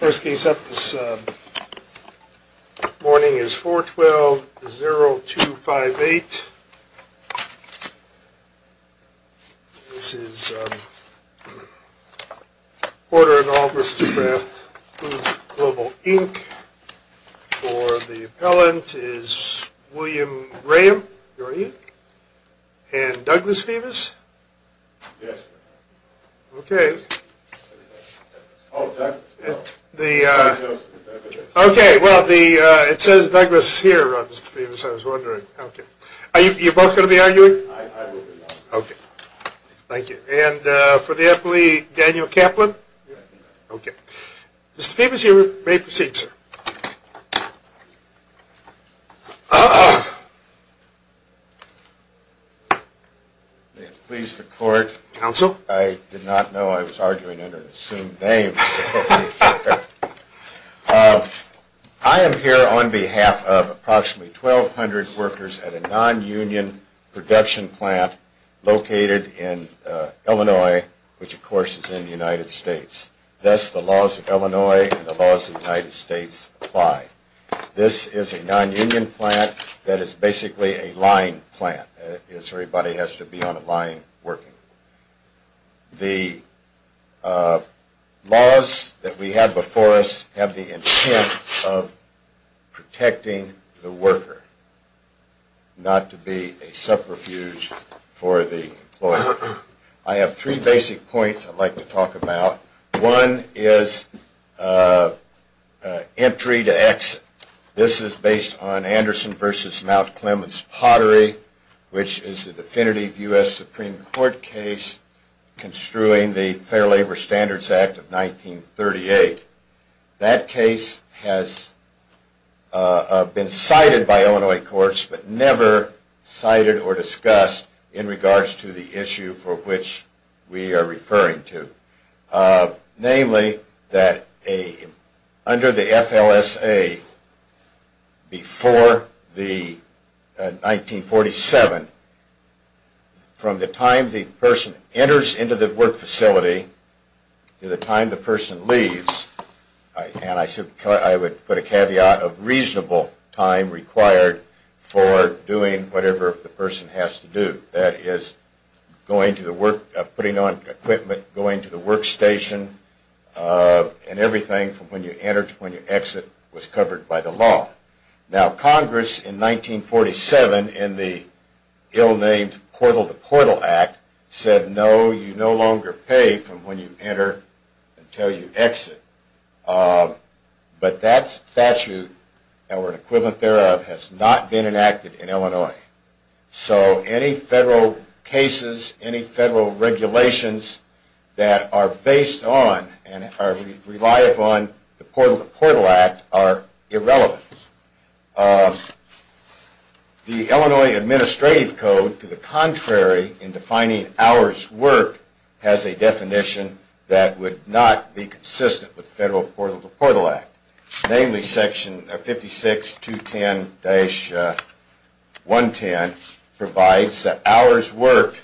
First case up this morning is 4-12-0-2-5-8 This is Order in all Mr. Kraft Foods Global, Inc. For the appellant is William Graham, are you? and Douglas Phebus Okay The Okay, well the it says Douglas here Are you both gonna be arguing? Okay Thank you, and for the appellee Daniel Kaplan Okay, mr.. Phoebus you may proceed sir I Am here on behalf of approximately 1,200 workers at a non-union production plant located in Illinois which of course is in the United States thus the laws of Illinois and the laws of the United States apply This is a non-union plant that is basically a line plant is everybody has to be on a line working the Laws that we have before us have the intent of protecting the worker Not to be a subterfuge for the boy. I have three basic points. I'd like to talk about one is Entry to exit this is based on Anderson versus Mount Clements pottery Which is the definitive US Supreme Court case? construing the Fair Labor Standards Act of 1938 that case has Been cited by Illinois courts, but never Cited or discussed in regards to the issue for which we are referring to Namely that a under the FLSA Before the 1947 From the time the person enters into the work facility to the time the person leaves And I said I would put a caveat of reasonable time required for doing whatever the person has to do that is Going to the work putting on equipment going to the workstation And everything from when you enter to when you exit was covered by the law now Congress in 1947 in the Ill-named portal the portal act said no you no longer pay from when you enter until you exit But that's statute that were an equivalent thereof has not been enacted in Illinois So any federal cases any federal regulations that are based on and are reliable on the portal to portal act are irrelevant The Illinois administrative code to the contrary in defining ours work has a Definition that would not be consistent with federal portal to portal act namely section of 56 to 10 dash 110 provides that hours work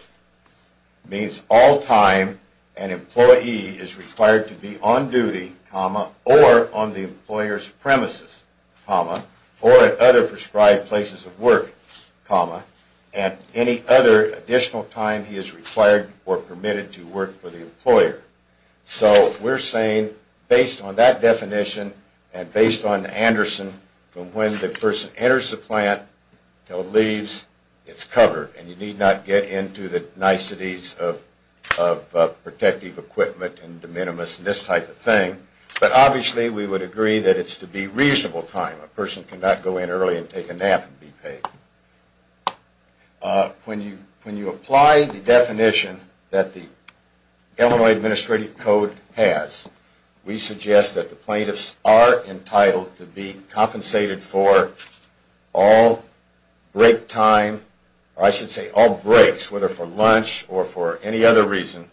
means all time an Employee is required to be on duty comma or on the employers premises comma or at other prescribed places of work Comma and any other additional time he is required or permitted to work for the employer So we're saying based on that definition and based on Anderson from when the person enters the plant No leaves. It's covered and you need not get into the niceties of Protective equipment and de minimis and this type of thing But obviously we would agree that it's to be reasonable time a person cannot go in early and take a nap and be paid When you when you apply the definition that the Illinois Administrative Code has We suggest that the plaintiffs are entitled to be compensated for all Break time or I should say all breaks whether for lunch or for any other reason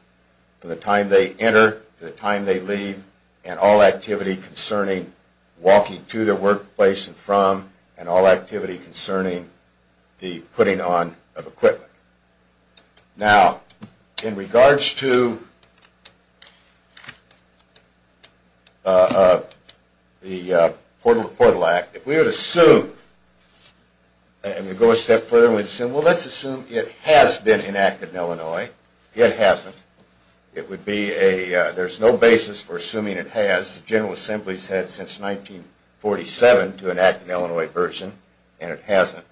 From the time they enter the time they leave and all activity concerning Walking to their workplace and from and all activity concerning the putting on of equipment now in regards to the Portal to portal act if we were to sue And we go a step further we'd assume well, let's assume it has been enacted in Illinois it hasn't It would be a there's no basis for assuming it has the General Assembly's had since 1947 to enact an Illinois version and it hasn't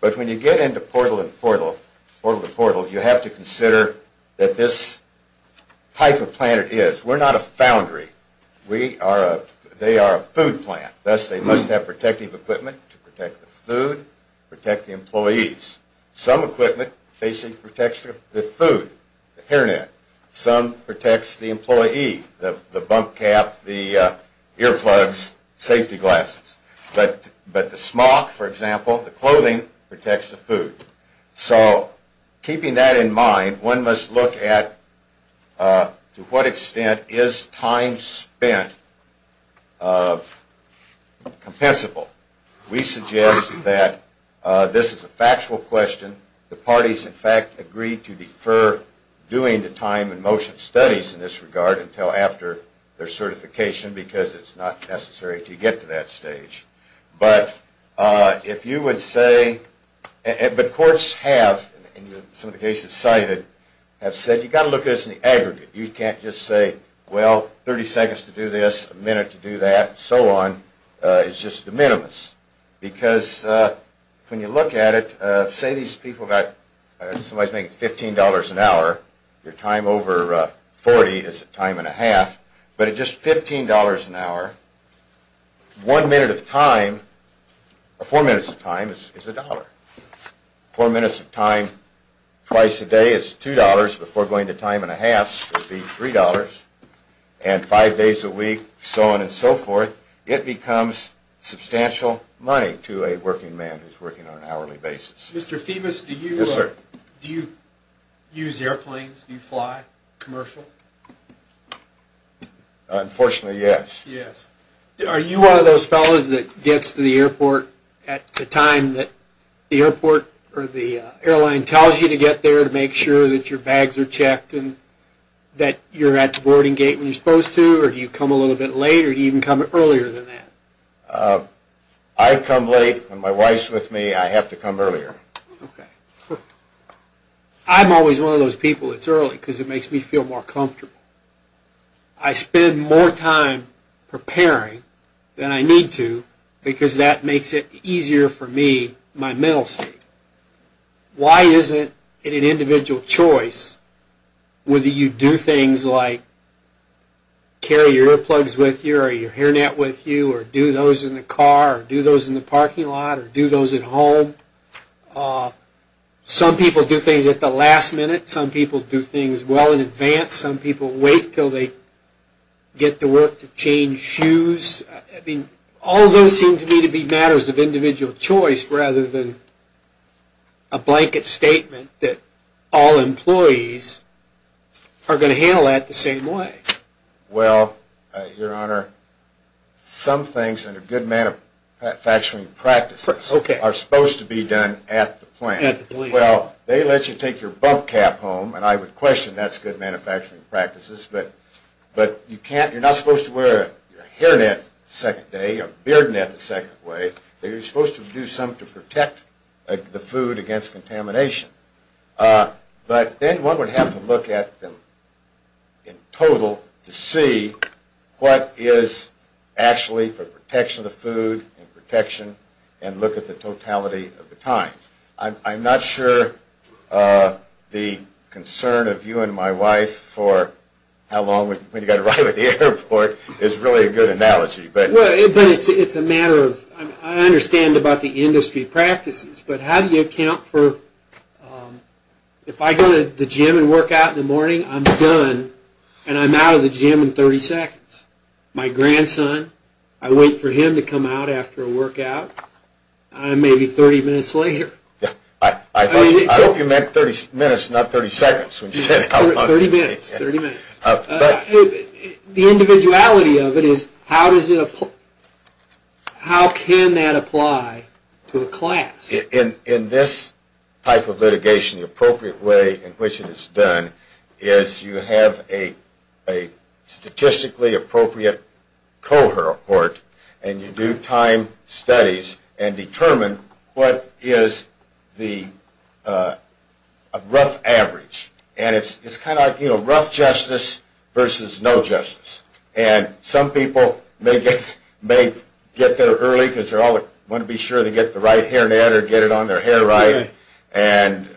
but when you get into portal and portal portal to portal you have to consider that this Type of planet is we're not a foundry. We are a they are a food plant That's they must have protective equipment to protect the food protect the employees some equipment facing protects the food the hairnet some protects the employee the the bump cap the Earplugs safety glasses, but but the smock for example the clothing protects the food so Keeping that in mind one must look at to what extent is time spent Compensable we suggest that This is a factual question the parties in fact agreed to defer Doing the time and motion studies in this regard until after their certification because it's not necessary to get to that stage but if you would say But courts have Some of the cases cited have said you got to look at this in the aggregate You can't just say well 30 seconds to do this a minute to do that so on It's just the minimus because When you look at it say these people got somebody's making $15 an hour your time over 40 is a time and a half, but it just $15 an hour one minute of time Four minutes of time is $1 four minutes of time Twice a day is $2 before going to time and a half would be $3 and Five days a week so on and so forth it becomes Substantial money to a working man who's working on an hourly basis mr.. Phoebus. Do you sir do you? Use airplanes you fly commercial Unfortunately yes, yes are you one of those fellows that gets to the airport at the time that the airport or the Airline tells you to get there to make sure that your bags are checked and that You're at the boarding gate when you're supposed to or do you come a little bit later to even come earlier than that I Come late when my wife's with me. I have to come earlier I'm always one of those people. It's early because it makes me feel more comfortable I spend more time Preparing than I need to because that makes it easier for me my middle state Why is it in an individual choice? whether you do things like Carry your earplugs with your your hairnet with you or do those in the car do those in the parking lot or do those at? home Some people do things at the last minute some people do things well in advance some people wait till they Get to work to change shoes. I mean all those seem to me to be matters of individual choice rather than a Blanket statement that all employees are going to handle that the same way well your honor Some things and a good man of Factoring practices, okay are supposed to be done at the plant well They let you take your bump cap home, and I would question. That's good manufacturing practices But but you can't you're not supposed to wear your hair net second day or beard net the second way So you're supposed to do something to protect the food against contamination? But then one would have to look at them in total to see what is Actually for protection of food and protection and look at the totality of the time. I'm not sure the Concern of you and my wife for how long when you got to ride with the airport is really a good analogy But well, it's a matter of I understand about the industry practices, but how do you account for? If I go to the gym and work out in the morning I'm done, and I'm out of the gym in 30 seconds my grandson. I wait for him to come out after a workout I'm maybe 30 minutes later. Yeah, I hope you meant 30 minutes not 30 seconds The individuality of it is how does it? How can that apply to a class in in this type of litigation the appropriate way in which it is done? is you have a Statistically appropriate cohort and you do time studies and determine what is the Rough average and it's kind of you know rough justice versus no justice and Some people may get may get there early because they're all want to be sure they get the right hair net or get it on their hair, right and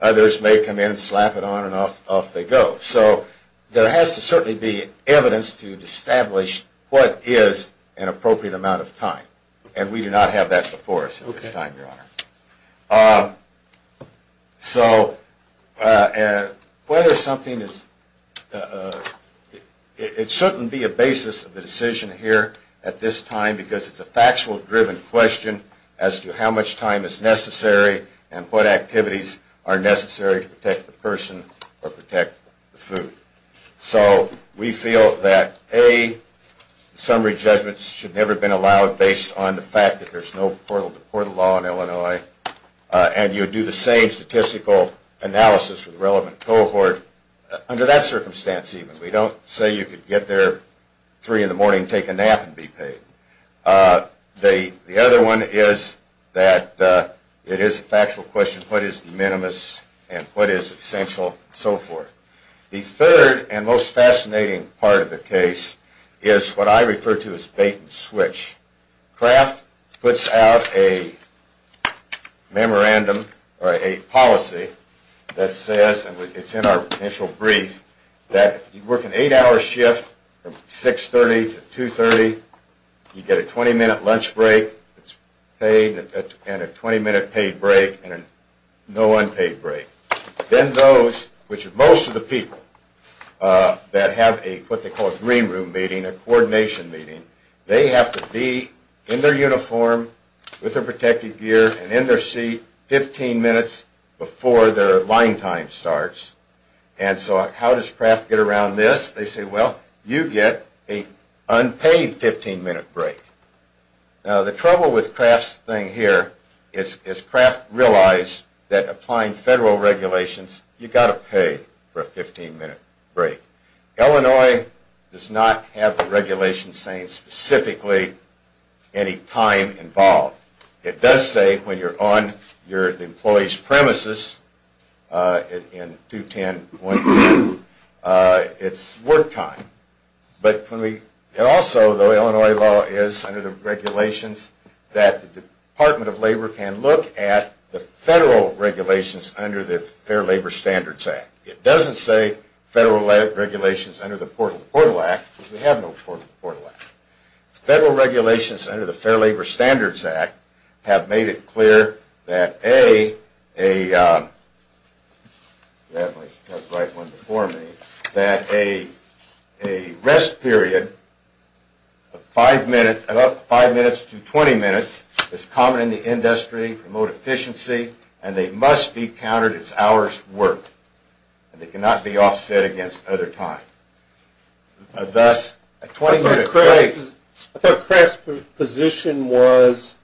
Others may come in slap it on and off off they go so there has to certainly be evidence to establish What is an appropriate amount of time and we do not have that before us at this time your honor? So and whether something is It shouldn't be a basis of the decision here at this time because it's a factual driven question as to how much time is Necessary and what activities are necessary to protect the person or protect the food so we feel that a Summary judgments should never been allowed based on the fact that there's no portal to portal law in Illinois And you do the same statistical analysis with relevant cohort under that circumstance even we don't say you could get there Three in the morning take a nap and be paid The the other one is that It is a factual question What is the minimus and what is essential so forth the third and most fascinating part of the case? Is what I refer to as bait-and-switch craft puts out a Memorandum or a policy that says it's in our initial brief that you work an eight-hour shift six thirty to two thirty You get a 20-minute lunch break. It's paid and a 20-minute paid break and a no unpaid break Then those which most of the people That have a what they call a green room meeting a coordination meeting They have to be in their uniform with their protective gear and in their seat 15 minutes before their line time starts and so how does craft get around this they say well you get a unpaid 15-minute break Now the trouble with crafts thing here is is craft realized that applying federal regulations You got to pay for a 15-minute break Illinois does not have a regulation saying specifically Any time involved it does say when you're on your employees premises in 210 It's work time But when we also though Illinois law is under the regulations that the Department of Labor can look at the federal Regulations under the Fair Labor Standards Act it doesn't say federal regulations under the portal portal act we have no Federal regulations under the Fair Labor Standards Act have made it clear that a a That a rest period Five minutes about five minutes to 20 minutes is common in the industry Promote efficiency, and they must be counted as hours worked And they cannot be offset against other time Thus a 20 minute craze Position was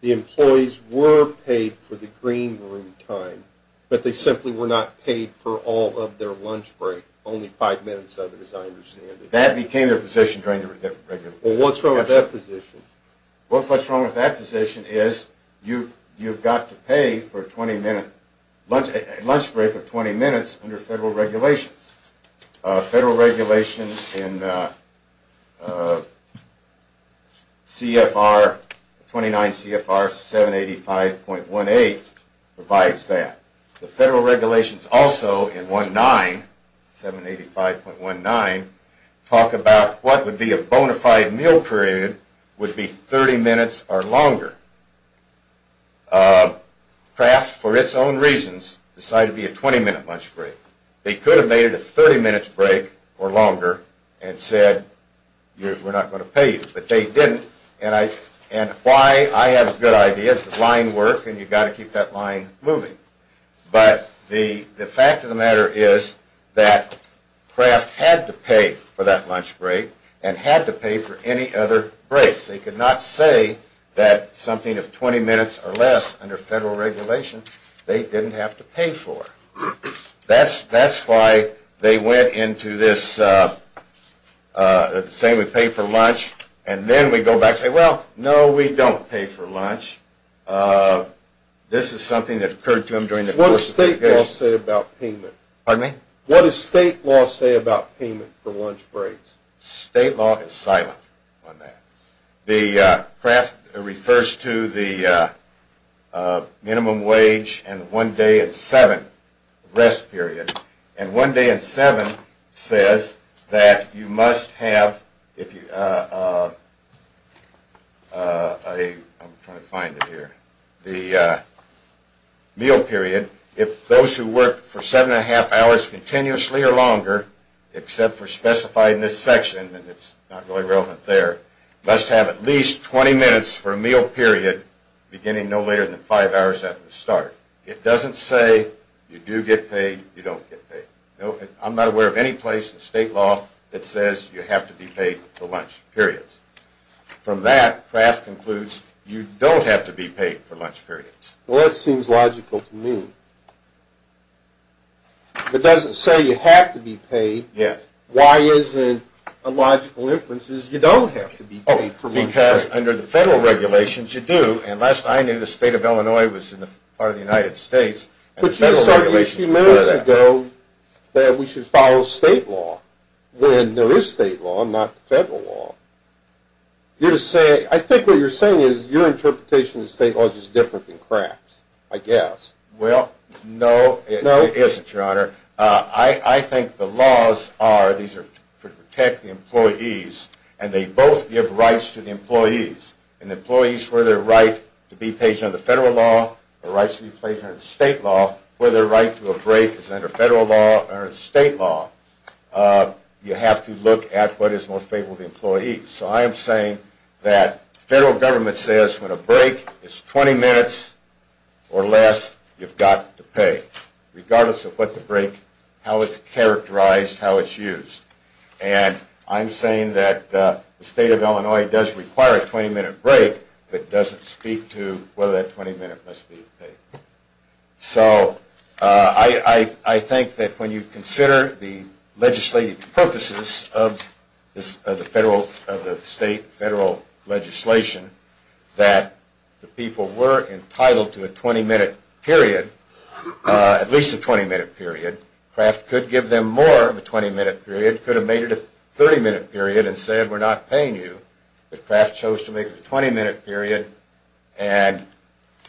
The employees were paid for the green room time But they simply were not paid for all of their lunch break only five minutes of it as I understand it that became a position trying to What's wrong with that position? What's what's wrong with that position is you you've got to pay for a 20-minute lunch lunch break of 20 minutes under federal regulations? federal regulations in C Fr 29 CFR 785 point one eight provides that the federal regulations also in one nine 785 point one nine Talk about what would be a bona fide meal period would be 30 minutes or longer Craft for its own reasons decide to be a 20-minute lunch break They could have made it a 30 minutes break or longer and said We're not going to pay you But they didn't and I and why I have good ideas line work, and you've got to keep that line moving but the the fact of the matter is that Craft had to pay for that lunch break and had to pay for any other breaks They could not say that something of 20 minutes or less under federal regulations. They didn't have to pay for That's that's why they went into this Same we pay for lunch, and then we go back say well. No we don't pay for lunch This is something that occurred to him during the course state I'll say about payment pardon me what is state law say about payment for lunch breaks state law is silent on that the craft refers to the Minimum wage and one day at 7 rest period and one day at 7 says that you must have if you I'm trying to find it here the Meal period if those who work for seven and a half hours continuously or longer Except for specified in this section, and it's not really relevant there must have at least 20 minutes for a meal period Beginning no later than five hours at the start. It doesn't say you do get paid you don't get paid I'm not aware of any place in state law. It says you have to be paid for lunch periods From that craft concludes you don't have to be paid for lunch periods. Well that seems logical to me It doesn't say you have to be paid yes, why isn't a logical inferences You don't have to be only for me because under the federal Regulations you do and last I knew the state of Illinois was in the part of the United States, but just a few minutes ago That we should follow state law when there is state law not federal law You say I think what you're saying is your interpretation is state laws is different than crafts. I guess well No, no, it isn't your honor I I think the laws are these are to protect the employees and they both give rights to the employees and Employees where their right to be patient of the federal law or rights to be patient of the state law Whether right to a break is under federal law or state law You have to look at what is more favorable to employees So I am saying that federal government says when a break is 20 minutes or less You've got to pay regardless of what the break how it's characterized how it's used and I'm saying that The state of Illinois does require a 20-minute break, but doesn't speak to whether that 20-minute must be So I Think that when you consider the legislative purposes of this of the federal of the state federal legislation that The people were entitled to a 20-minute period at least a 20-minute period Craft could give them more of a 20-minute period could have made it a 30-minute period and said we're not paying you the craft chose to make a 20-minute period and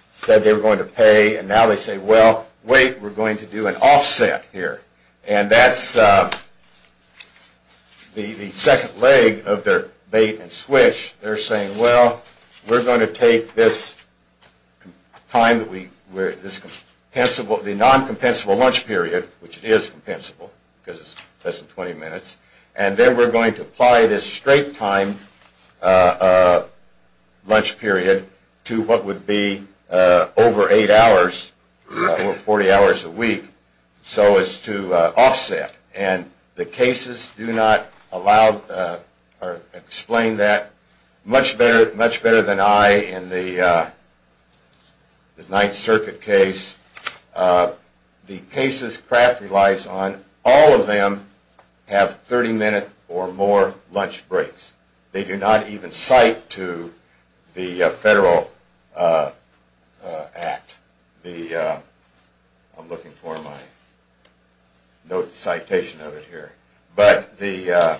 Said they were going to pay and now they say well wait. We're going to do an offset here, and that's The the second leg of their bait-and-switch they're saying well, we're going to take this Time that we wear this Compensable the non-compensable lunch period which is compensable because it's less than 20 minutes, and then we're going to apply this straight time a Lunch period to what would be? over eight hours or 40 hours a week so as to offset and the cases do not allow or explain that much better much better than I in the Ninth Circuit case The cases craft relies on all of them have 30 minute or more Lunch breaks, they do not even cite to the federal Act the I'm looking for my Note the citation of it here, but the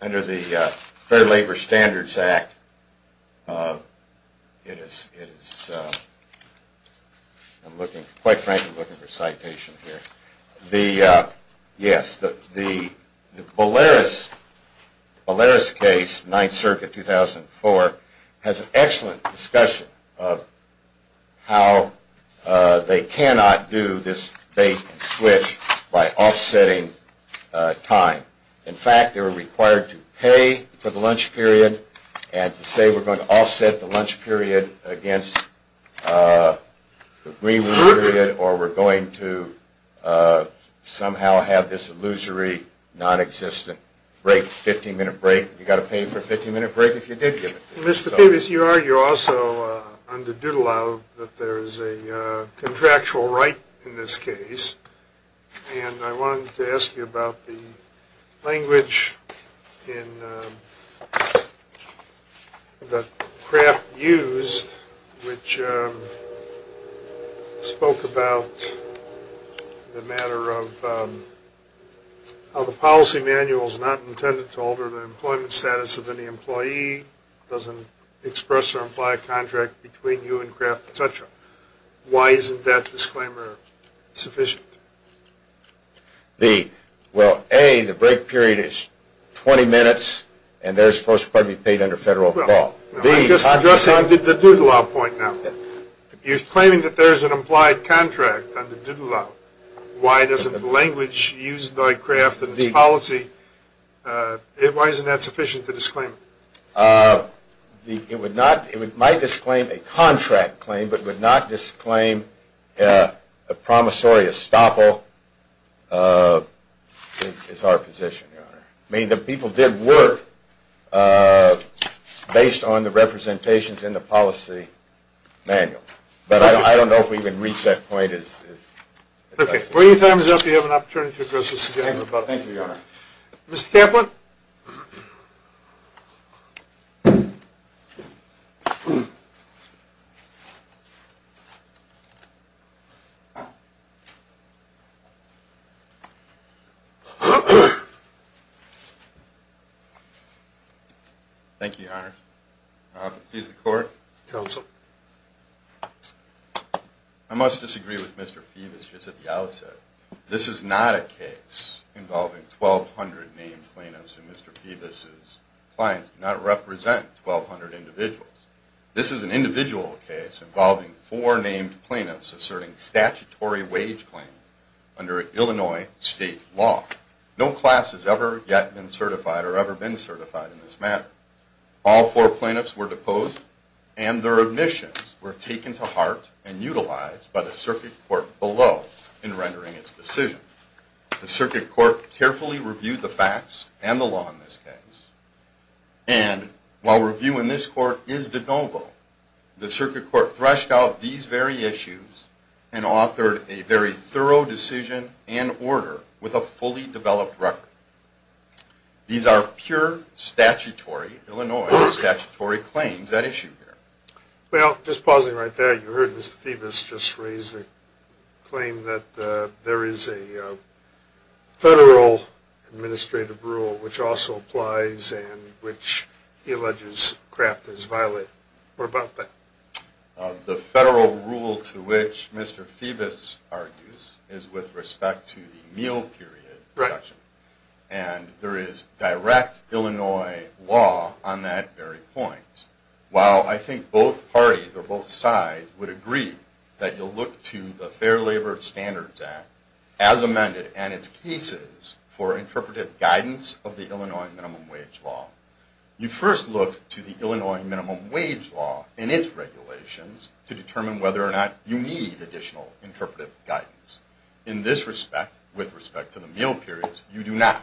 under the Fair Labor Standards Act It is I'm looking quite frankly looking for citation here the yes the the Polaris case Ninth Circuit 2004 has an excellent discussion of how They cannot do this bait-and-switch by offsetting Time in fact they were required to pay for the lunch period and to say we're going to offset the lunch period against The agreement or we're going to Somehow have this illusory Non-existent break 15-minute break you got to pay for a 15-minute break if you did give it mr.. Davis you are you also under doodle out that there is a contractual right in this case and I wanted to ask you about the language in The craft used which Spoke about The matter of How the policy manual is not intended to alter the employment status of any employee Doesn't express or imply a contract between you and craft potential. Why isn't that disclaimer? sufficient The well a the break period is 20 minutes, and there's supposed to be paid under federal law Addressing did the doodle out point now You're claiming that there's an implied contract on the doodle out. Why doesn't the language used by craft and the policy? It why isn't that sufficient to disclaim? The it would not it might disclaim a contract claim, but would not disclaim a promissory estoppel It's our position I mean the people did work Based on the representations in the policy manual, but I don't know if we can reach that point is Okay, well your time is up. You have an opportunity to address this again. Thank you. Mr.. Kaplan Thank you, please the court council I Must disagree with mr.. Phoebus just at the outset. This is not a case Involving 1,200 named plaintiffs and mr.. Phoebus's clients not represent 1,200 individuals This is an individual case involving four named plaintiffs asserting statutory wage claim Under Illinois state law No class has ever yet been certified or ever been certified in this matter all four plaintiffs were deposed and Their admissions were taken to heart and utilized by the circuit court below in rendering its decision the circuit court carefully reviewed the facts and the law in this case and while reviewing this court is de noble the circuit court threshed out these very issues and Authored a very thorough decision and order with a fully developed record These are pure statutory Illinois statutory claims that issue here well just pausing right there you heard mr.. Phoebus just raised a claim that there is a Federal Administrative rule which also applies and which he alleges craft is violent or about that The federal rule to which mr. Phoebus argues is with respect to the meal period correction and There is direct Illinois law on that very point Well, I think both parties or both sides would agree that you'll look to the Fair Labor Standards Act as amended And it's pieces for interpretive guidance of the Illinois minimum wage law You first look to the Illinois minimum wage law in its Regulations to determine whether or not you need additional interpretive guidance in this respect with respect to the meal periods you do not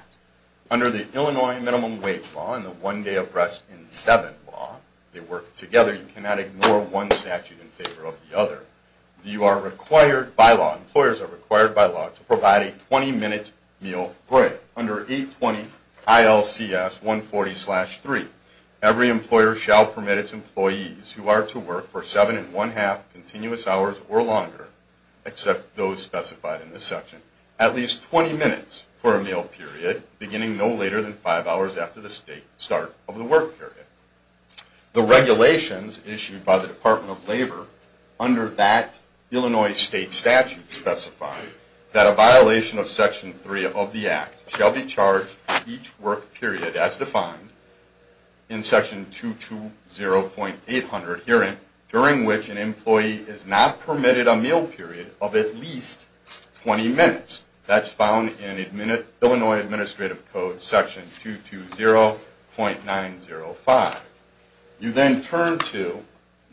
Under the Illinois minimum wage law in the one day of rest in seven law they work together You cannot ignore one statute in favor of the other You are required by law employers are required by law to provide a 20-minute meal break under 820 ILCS 140 slash 3 every employer shall permit its employees who are to work for seven and one half continuous hours or longer Except those specified in this section at least 20 minutes for a meal period Beginning no later than five hours after the state start of the work period the regulations issued by the Department of Labor under that Work period as defined in section two two zero point eight hundred hearing during which an employee is not permitted a meal period of at least 20 minutes that's found in a minute, Illinois Administrative Code section two two zero point nine zero five You then turn to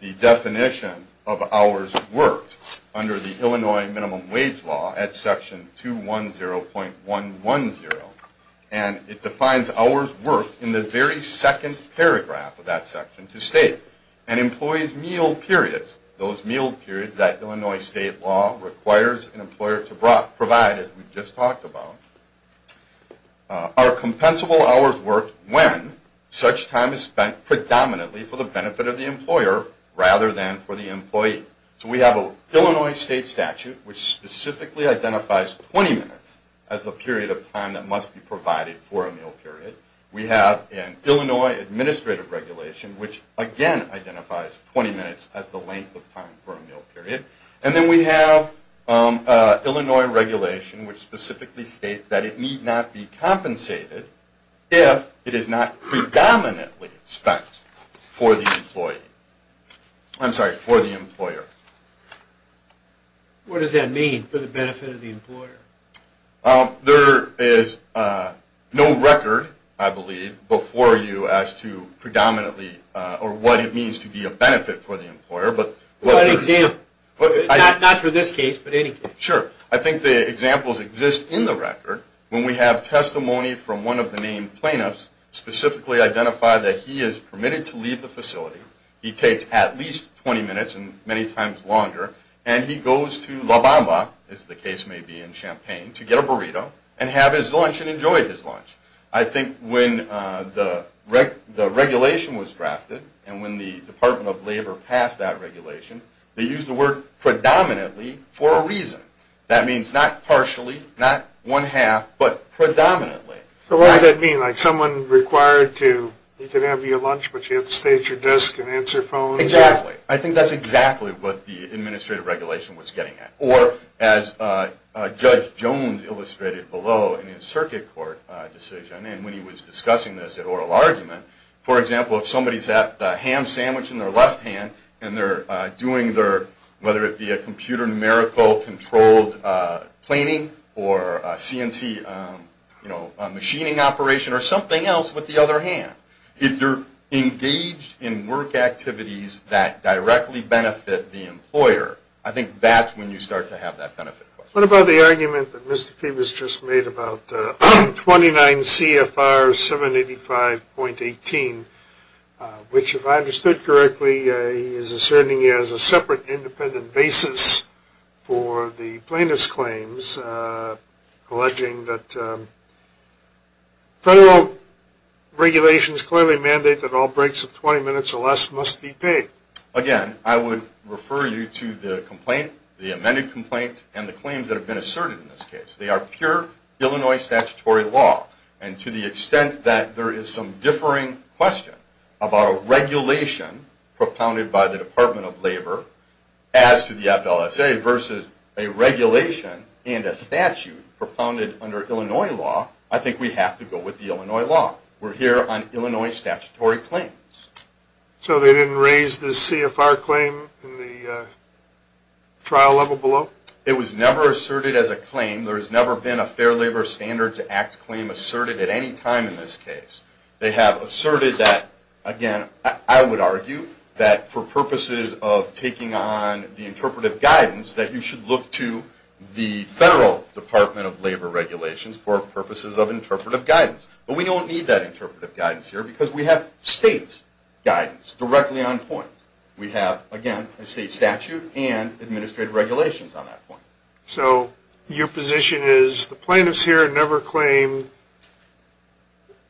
the definition of hours worked under the Illinois minimum wage law at section two one zero point one one zero and It defines hours worked in the very second paragraph of that section to state and employees meal Periods those meal periods that Illinois state law requires an employer to provide as we've just talked about Our compensable hours worked when such time is spent Predominantly for the benefit of the employer rather than for the employee, so we have a Illinois state statute Which specifically identifies 20 minutes as the period of time that must be provided for a meal period we have in Illinois? Administrative regulation which again identifies 20 minutes as the length of time for a meal period and then we have Illinois regulation which specifically states that it need not be compensated If it is not Predominantly spent for the employee I'm sorry for the employer What does that mean for the benefit of the employer oh? there is No record. I believe before you as to predominantly or what it means to be a benefit for the employer But what exam but not for this case, but any sure I think the examples exist in the record when we have testimony from one of the main plaintiffs Specifically identified that he is permitted to leave the facility He takes at least 20 minutes and many times longer And he goes to La Bamba is the case may be in Champaign to get a burrito and have his lunch and enjoy his lunch I think when the wreck the regulation was drafted and when the Department of Labor passed that regulation They used the word Predominantly for a reason that means not partially not one half Predominantly so what that mean like someone required to you can have your lunch, but you have to stage your desk and answer phone exactly I think that's exactly what the administrative regulation was getting at or as Judge Jones illustrated below in his circuit court decision and when he was discussing this at oral argument for example If somebody's at the ham sandwich in their left hand, and they're doing their whether it be a computer numerical controlled Planning or CNC You know machining operation or something else with the other hand if you're engaged in work Activities that directly benefit the employer. I think that's when you start to have that benefit What about the argument that mr.. Fee was just made about? 29 CFR 785 point 18 Which if I understood correctly is asserting as a separate independent basis For the plaintiffs claims alleging that Federal Regulations clearly mandate that all breaks of 20 minutes or less must be paid again I would refer you to the complaint the amended complaint and the claims that have been asserted in this case They are pure Illinois statutory law and to the extent that there is some differing question about a regulation Propounded by the Department of Labor as to the FLSA versus a Regulation and a statute propounded under Illinois law. I think we have to go with the Illinois law We're here on Illinois statutory claims so they didn't raise the CFR claim in the Trial level below it was never asserted as a claim There has never been a Fair Labor Standards Act claim asserted at any time in this case They have asserted that again I would argue that for purposes of taking on the interpretive guidance that you should look to the Federal Department of Labor regulations for purposes of interpretive guidance, but we don't need that interpretive guidance here because we have state Guidance directly on point we have again a state statute and administrative regulations on that point so your position Is the plaintiffs here never claim?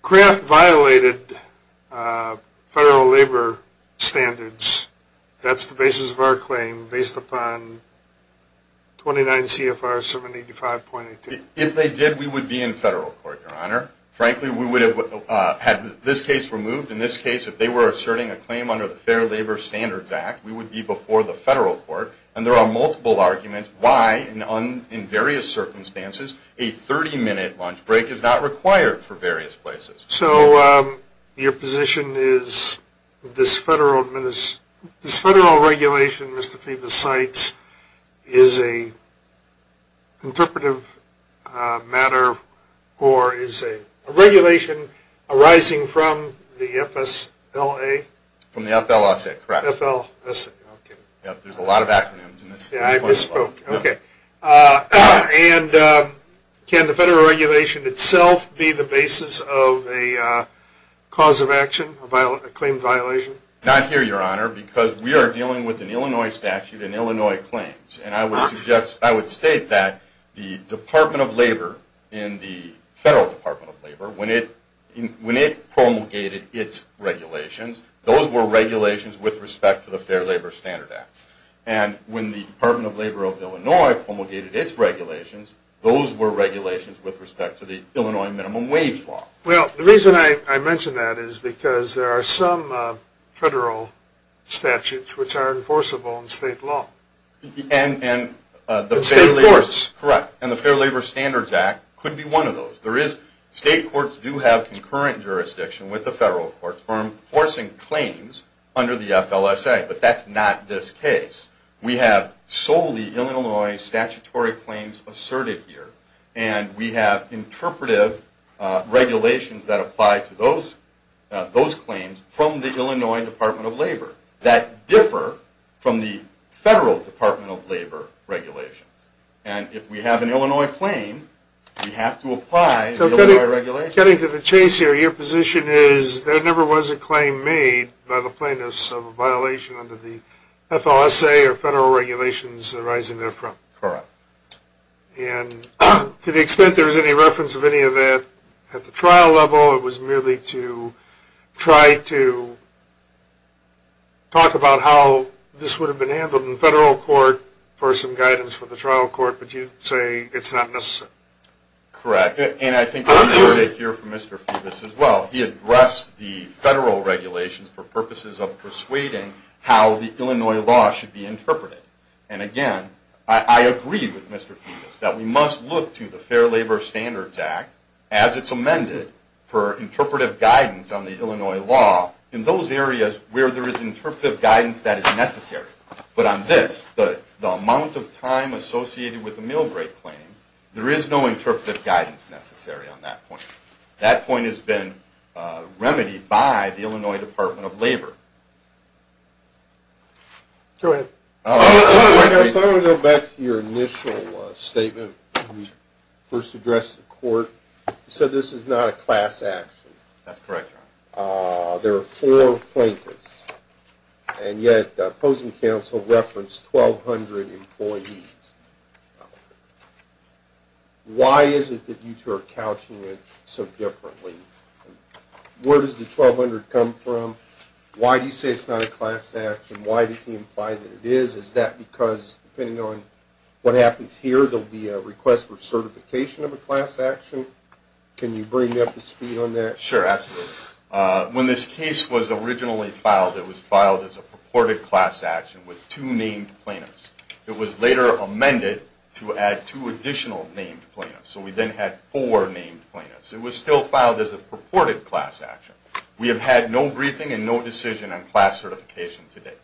Craft violated Federal labor standards, that's the basis of our claim based upon 29 CFR 75.8 if they did we would be in federal court your honor frankly We would have had this case removed in this case if they were asserting a claim under the Fair Labor Standards Act We would be before the federal court And there are multiple arguments why and on in various circumstances a 30-minute lunch break is not required for various places so your position is this federal minutes this federal regulation, Mr.. Thiebaud sites is a Interpretive matter or is a regulation arising from the FS la From the FL. I said correct FL. Yes, there's a lot of acronyms, and I just spoke okay and can the federal regulation itself be the basis of a Cause of action about a claim violation not here your honor because we are dealing with an Illinois statute in Illinois claims And I would suggest I would state that the Department of Labor in the Federal Department of Labor when it when it promulgated its Regulations those were regulations with respect to the Fair Labor Standard Act and when the Department of Labor of Illinois Promulgated its regulations those were regulations with respect to the Illinois minimum wage law well the reason I mentioned that is because there are some federal Statutes which are enforceable in state law and The state courts correct and the Fair Labor Standards Act could be one of those there is state courts Do have concurrent jurisdiction with the federal courts for enforcing claims under the FLSA, but that's not this case We have solely Illinois statutory claims asserted here, and we have interpretive regulations that apply to those Those claims from the Illinois Department of Labor that differ from the federal Department of Labor Regulations and if we have an Illinois claim We have to apply to the regulation getting to the chase here your position is there never was a claim made by the plaintiffs of violation under the FLSA or federal regulations arising there from and to the extent there is any reference of any of that at the trial level it was merely to try to Talk about how this would have been handled in the federal court for some guidance for the trial court, but you say it's not this Correct, and I think you're here for mr. Phoebus as well He addressed the federal regulations for purposes of persuading how the Illinois law should be interpreted and again I agree with mr. Phoebus that we must look to the Fair Labor Standards Act as it's amended for Interpretive guidance that is necessary But on this but the amount of time associated with a meal break claim There is no interpretive guidance necessary on that point that point has been remedied by the Illinois Department of Labor Go ahead Back to your initial statement First address the court said this is not a class action. That's correct There are four plaintiffs and yet opposing counsel referenced 1,200 employees Why is it that you two are couching it so differently Where does the 1,200 come from? Why do you say it's not a class action? Why does he imply that it is is that because depending on what happens here? There'll be a request for certification of a class action. Can you bring me up to speed on that sure? When this case was originally filed it was filed as a purported class action with two named plaintiffs It was later amended to add two additional named plaintiffs, so we then had four named plaintiffs It was still filed as a purported class action. We have had no briefing and no decision on class certification today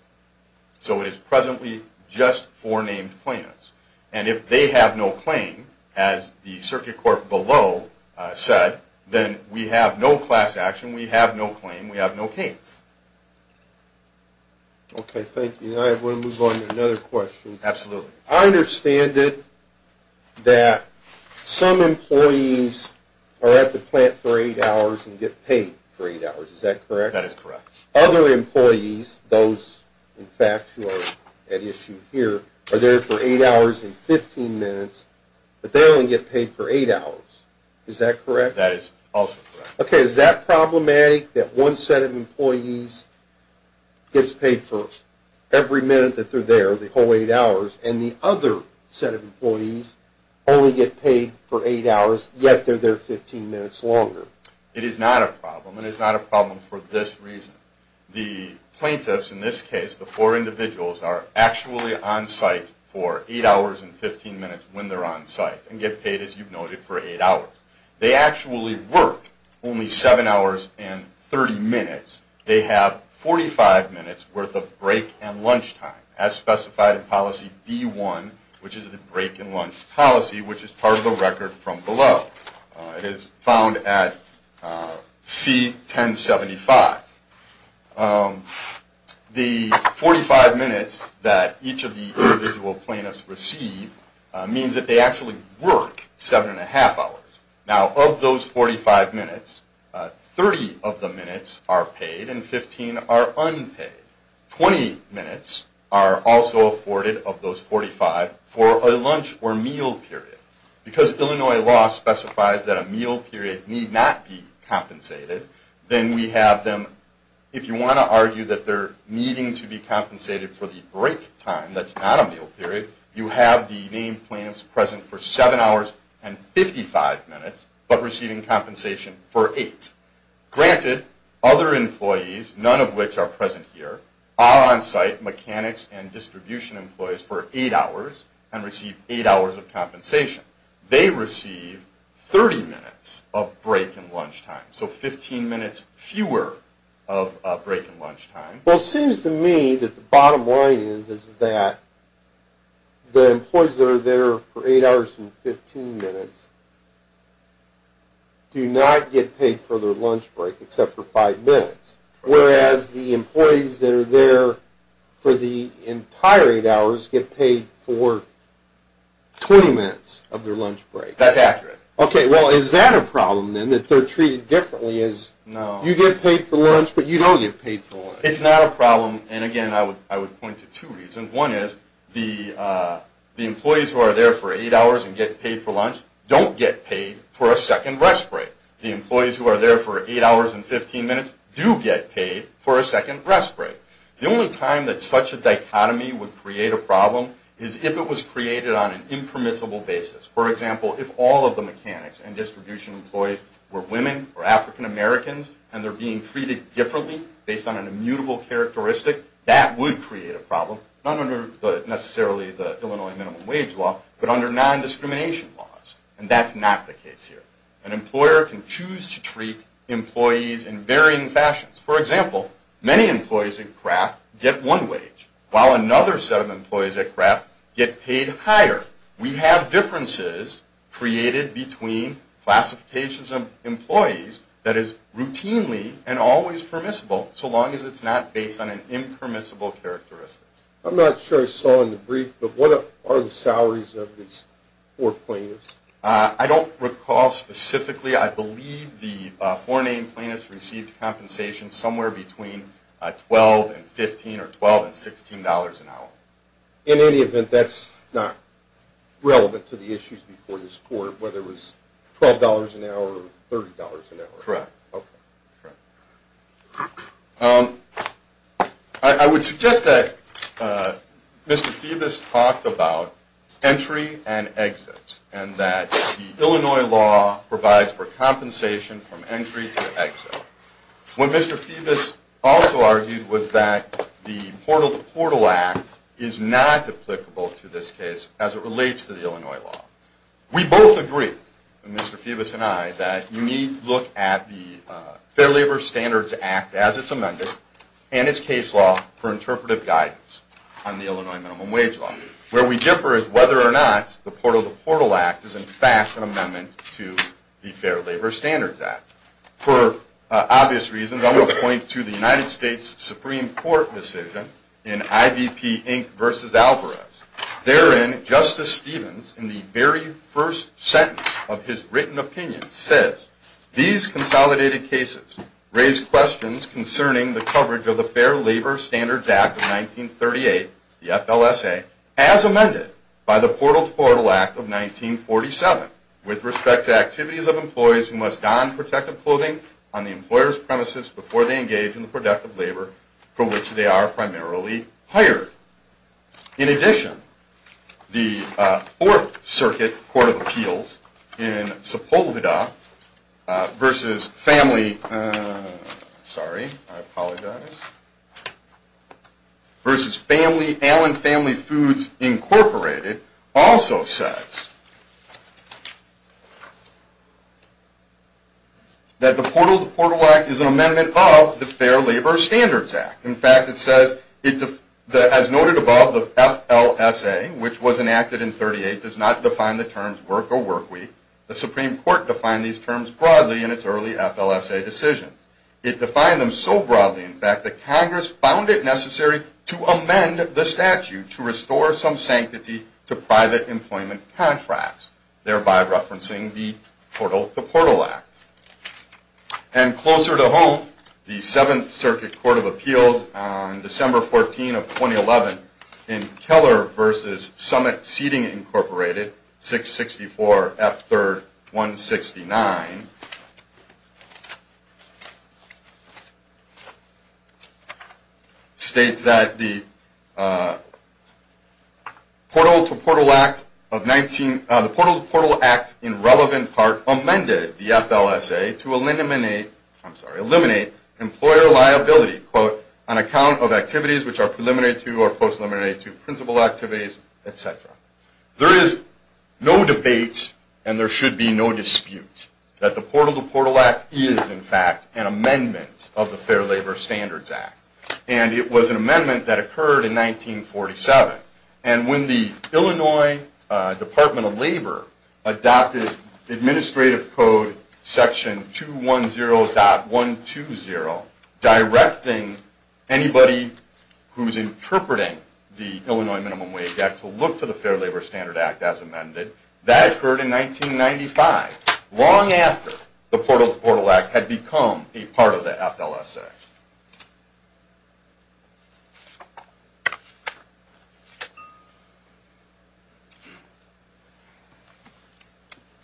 So it is presently just four named plaintiffs, and if they have no claim as the circuit court below Said then we have no class action. We have no claim. We have no case Okay, thank you. I have one move on to another question absolutely I understand it that Some employees are at the plant for eight hours and get paid for eight hours is that correct that is correct other Employees those in fact who are at issue here are there for eight hours and 15 minutes But they only get paid for eight hours is that correct that is also, okay, is that problematic that one set of employees? Gets paid for every minute that they're there the whole eight hours and the other set of employees Only get paid for eight hours yet. They're there 15 minutes longer. It is not a problem It is not a problem for this reason the plaintiffs in this case the four individuals are actually on site for eight hours And 15 minutes when they're on site and get paid as you've noted for eight hours They actually work only seven hours and 30 minutes They have 45 minutes worth of break and lunch time as specified in policy be one Which is the break and lunch policy which is part of the record from below? It is found at C 1075 The 45 minutes that each of the individual plaintiffs receive Means that they actually work seven and a half hours now of those 45 minutes 30 of the minutes are paid and 15 are unpaid 20 minutes are also afforded of those 45 for a lunch or meal period Because Illinois law specifies that a meal period need not be If you want to argue that they're needing to be compensated for the break time that's not a meal period you have the main plans present for seven hours and 55 minutes, but receiving compensation for eight Granted other employees none of which are present here are on-site mechanics and distribution Employees for eight hours and receive eight hours of compensation They receive 30 minutes of break and lunch time so 15 minutes fewer of Break and lunch time well seems to me that the bottom line is is that? The employees that are there for eight hours and 15 minutes Do not get paid for their lunch break except for five minutes whereas the employees that are there for the entire eight hours get paid for 20 minutes of their lunch break that's accurate okay Well is that a problem then that they're treated differently is no you get paid for lunch, but you don't get paid for it It's not a problem and again. I would I would point to two reasons one is the The employees who are there for eight hours and get paid for lunch don't get paid for a second rest break the employees who are There for eight hours and 15 minutes do get paid for a second rest break The only time that such a dichotomy would create a problem is if it was created on an impermissible basis for example If all of the mechanics and distribution employees were women or african-americans And they're being treated differently based on an immutable characteristic that would create a problem I'm under the necessarily the Illinois minimum wage law, but under non-discrimination laws And that's not the case here an employer can choose to treat employees in varying fashions for example Many employees in craft get one wage while another set of employees at craft get paid higher. We have differences created between Classifications of employees that is routinely and always permissible so long as it's not based on an impermissible Characteristic, I'm not sure so in the brief, but what are the salaries of these four points? I don't recall specifically I believe the four-name plaintiffs received compensation somewhere between Twelve and fifteen or twelve and sixteen dollars an hour in any event. That's not Relevant to the issues before this court whether it was twelve dollars an hour or thirty dollars an hour correct I Would suggest that? Mr.. Phoebus talked about Entry and exits and that the Illinois law provides for compensation from entry to exit When mr. Phoebus also argued was that the portal to portal act is not Applicable to this case as it relates to the Illinois law we both agree Mr.. Phoebus, and I that you need look at the Fair Labor Standards Act as its amended and its case law for interpretive guidance On the Illinois minimum wage law where we differ is whether or not the portal the portal act is in fact an amendment to the Fair Labor Standards Act for Obvious reasons I will point to the United States Supreme Court decision in IVP Inc. Versus Alvarez Therein Justice Stevens in the very first sentence of his written opinion says these consolidated cases Raise questions concerning the coverage of the Fair Labor Standards Act of 1938 the FLSA as amended by the portal portal act of 1947 with respect to activities of employees who must don protective clothing on the employers premises before they engage in the productive labor For which they are primarily hired in addition the Fourth-Circuit Court of Appeals in Sepulveda Versus family Sorry Versus family Allen family foods incorporated also says That the portal the portal act is an amendment of the Fair Labor Standards Act in fact It says it as noted above the FLSA Which was enacted in 38 does not define the terms work or work week the Supreme Court defined these terms broadly in its early FLSA decision it defined them so broadly in fact the Congress found it necessary to amend the statute to restore some sanctity to private employment contracts thereby referencing the portal the portal act and closer to home the Seventh Circuit Court of Appeals on December 14 of 2011 in Keller versus Summit Seating Incorporated 664 F 3rd 169 States that the Portal to portal act of 19 the portal portal act in relevant part amended the FLSA to eliminate I'm sorry eliminate employer liability quote an account of activities Which are preliminary to or post eliminate to principal activities etc. There is no debate And there should be no dispute that the portal the portal act is in fact an amendment of the Fair Labor Standards Act And it was an amendment that occurred in 1947 and when the Illinois Department of Labor adopted administrative code section 210 dot 120 directing anybody Who's interpreting the Illinois Minimum Wage Act to look to the Fair Labor Standard Act as amended that occurred in? 1995 long after the portal portal act had become a part of the FLSA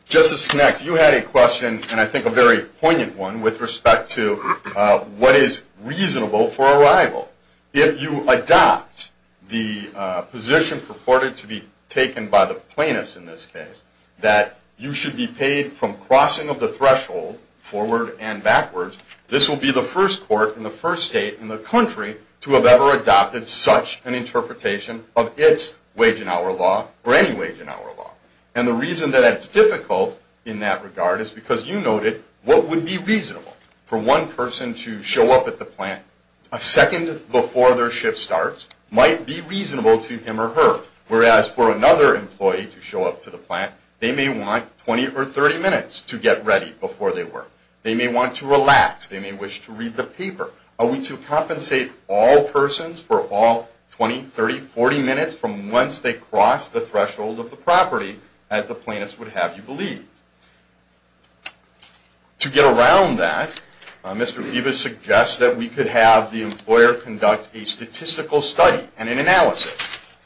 Justice connect you had a question, and I think a very poignant one with respect to What is reasonable for arrival if you adopt the Position purported to be taken by the plaintiffs in this case that you should be paid from crossing of the threshold forward and backwards This will be the first court in the first state in the country to have ever adopted such an interpretation of its Wage-an-hour law or any wage-an-hour law and the reason that it's difficult in that regard is because you noted What would be reasonable for one person to show up at the plant a second before their shift starts? Might be reasonable to him or her whereas for another employee to show up to the plant They may want 20 or 30 minutes to get ready before they work. They may want to relax They may wish to read the paper a week to compensate all Persons for all 20 30 40 minutes from once they cross the threshold of the property as the plaintiffs would have you believe To get around that Mr.. Viva suggests that we could have the employer conduct a statistical study and an analysis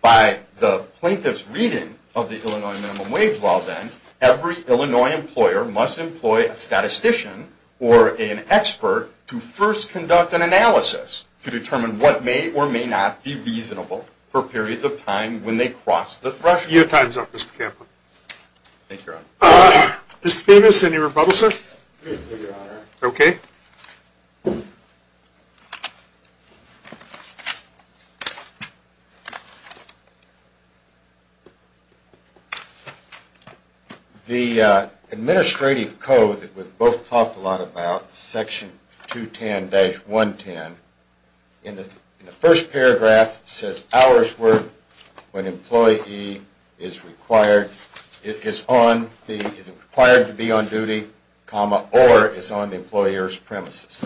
by the plaintiffs reading of the Illinois minimum-wage law then every, Illinois employer must employ a statistician or an expert to first conduct an Analysis to determine what may or may not be reasonable for periods of time when they cross the threshold your time's up, Mr. Campbell Mr.. Famous any rebuttal sir, okay? the Administrative code that would both talked a lot about section 210 110 in the first paragraph says hours work when employee is Required it is on the is required to be on duty comma or is on the employers premises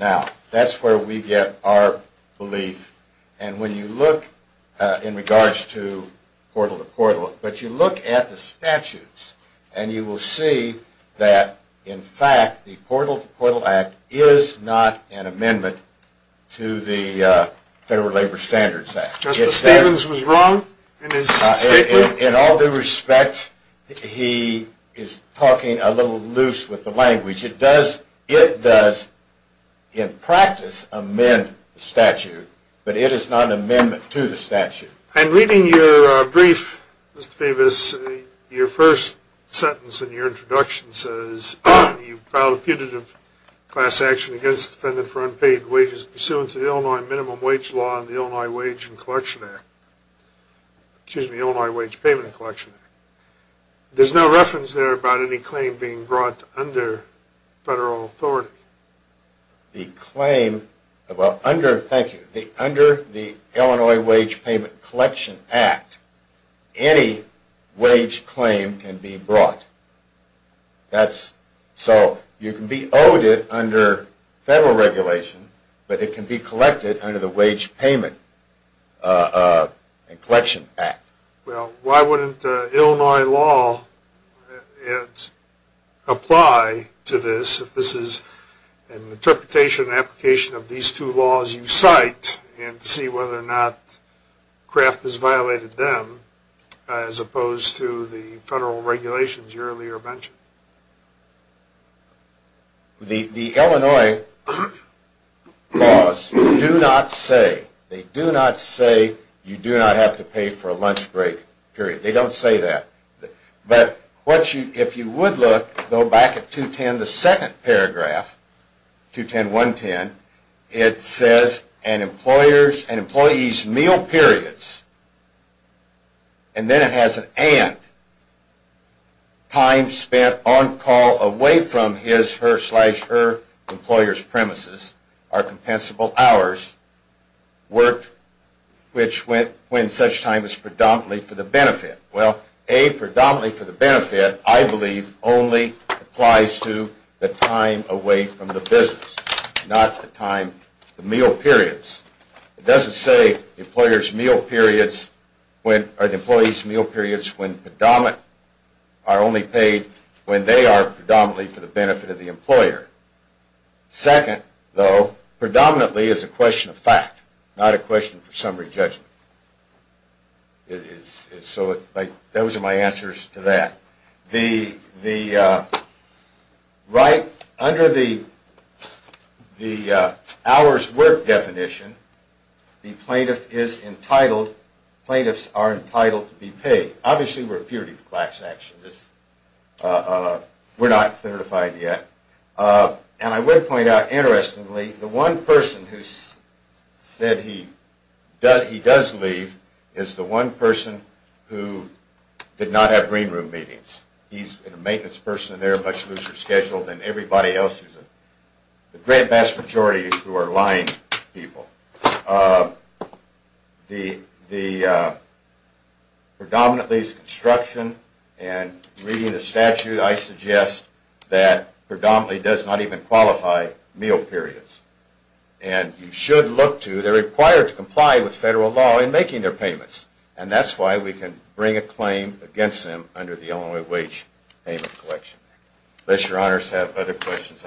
Now that's where we get our belief and when you look in regards to Portal to portal, but you look at the statutes And you will see that in fact the portal portal act is not an amendment to the Federal Labor Standards Act In all due respect He is talking a little loose with the language it does it does In practice amend statute, but it is not an amendment to the statute and reading your brief Davis your first sentence in your introduction says You filed a putative class action against the defendant for unpaid wages pursuant to the Illinois minimum wage law in the Illinois wage and collection act Excuse me, Illinois wage payment collection There's no reference there about any claim being brought under federal authority the claim About under thank you the under the Illinois wage payment collection act any Wage claim can be brought That's so you can be owed it under federal regulation, but it can be collected under the wage payment And collection act well, why wouldn't Illinois law? Apply to this if this is an Interpretation application of these two laws you cite and see whether or not Craft has violated them as opposed to the federal regulations you earlier mentioned The the Illinois Laws do not say they do not say you do not have to pay for a lunch break period they don't say that But what you if you would look go back at 210 the second paragraph 210 110 it says and employers and employees meal periods and Then it has an and Time spent on call away from his her slash her employers premises our compensable hours worked Which went when such time is predominantly for the benefit well a predominantly for the benefit? I believe only applies to the time away from the business not the time the meal periods It doesn't say employers meal periods when are the employees meal periods when predominant are Only paid when they are predominantly for the benefit of the employer Second though predominantly is a question of fact not a question for summary judgment It is so it like those are my answers to that the the Right under the the Hours work definition The plaintiff is entitled Plaintiffs are entitled to be paid obviously we're a purity of class action this We're not certified yet and I would point out interestingly the one person who said he Does he does leave is the one person who? Did not have green room meetings. He's a maintenance person. They're much looser scheduled than everybody else's The great vast majority who are lying people the the Predominantly is construction and reading the statute I suggest that predominantly does not even qualify meal periods and You should look to they're required to comply with federal law in making their payments And that's why we can bring a claim against them under the Illinois wage payment collection Let your honors have other questions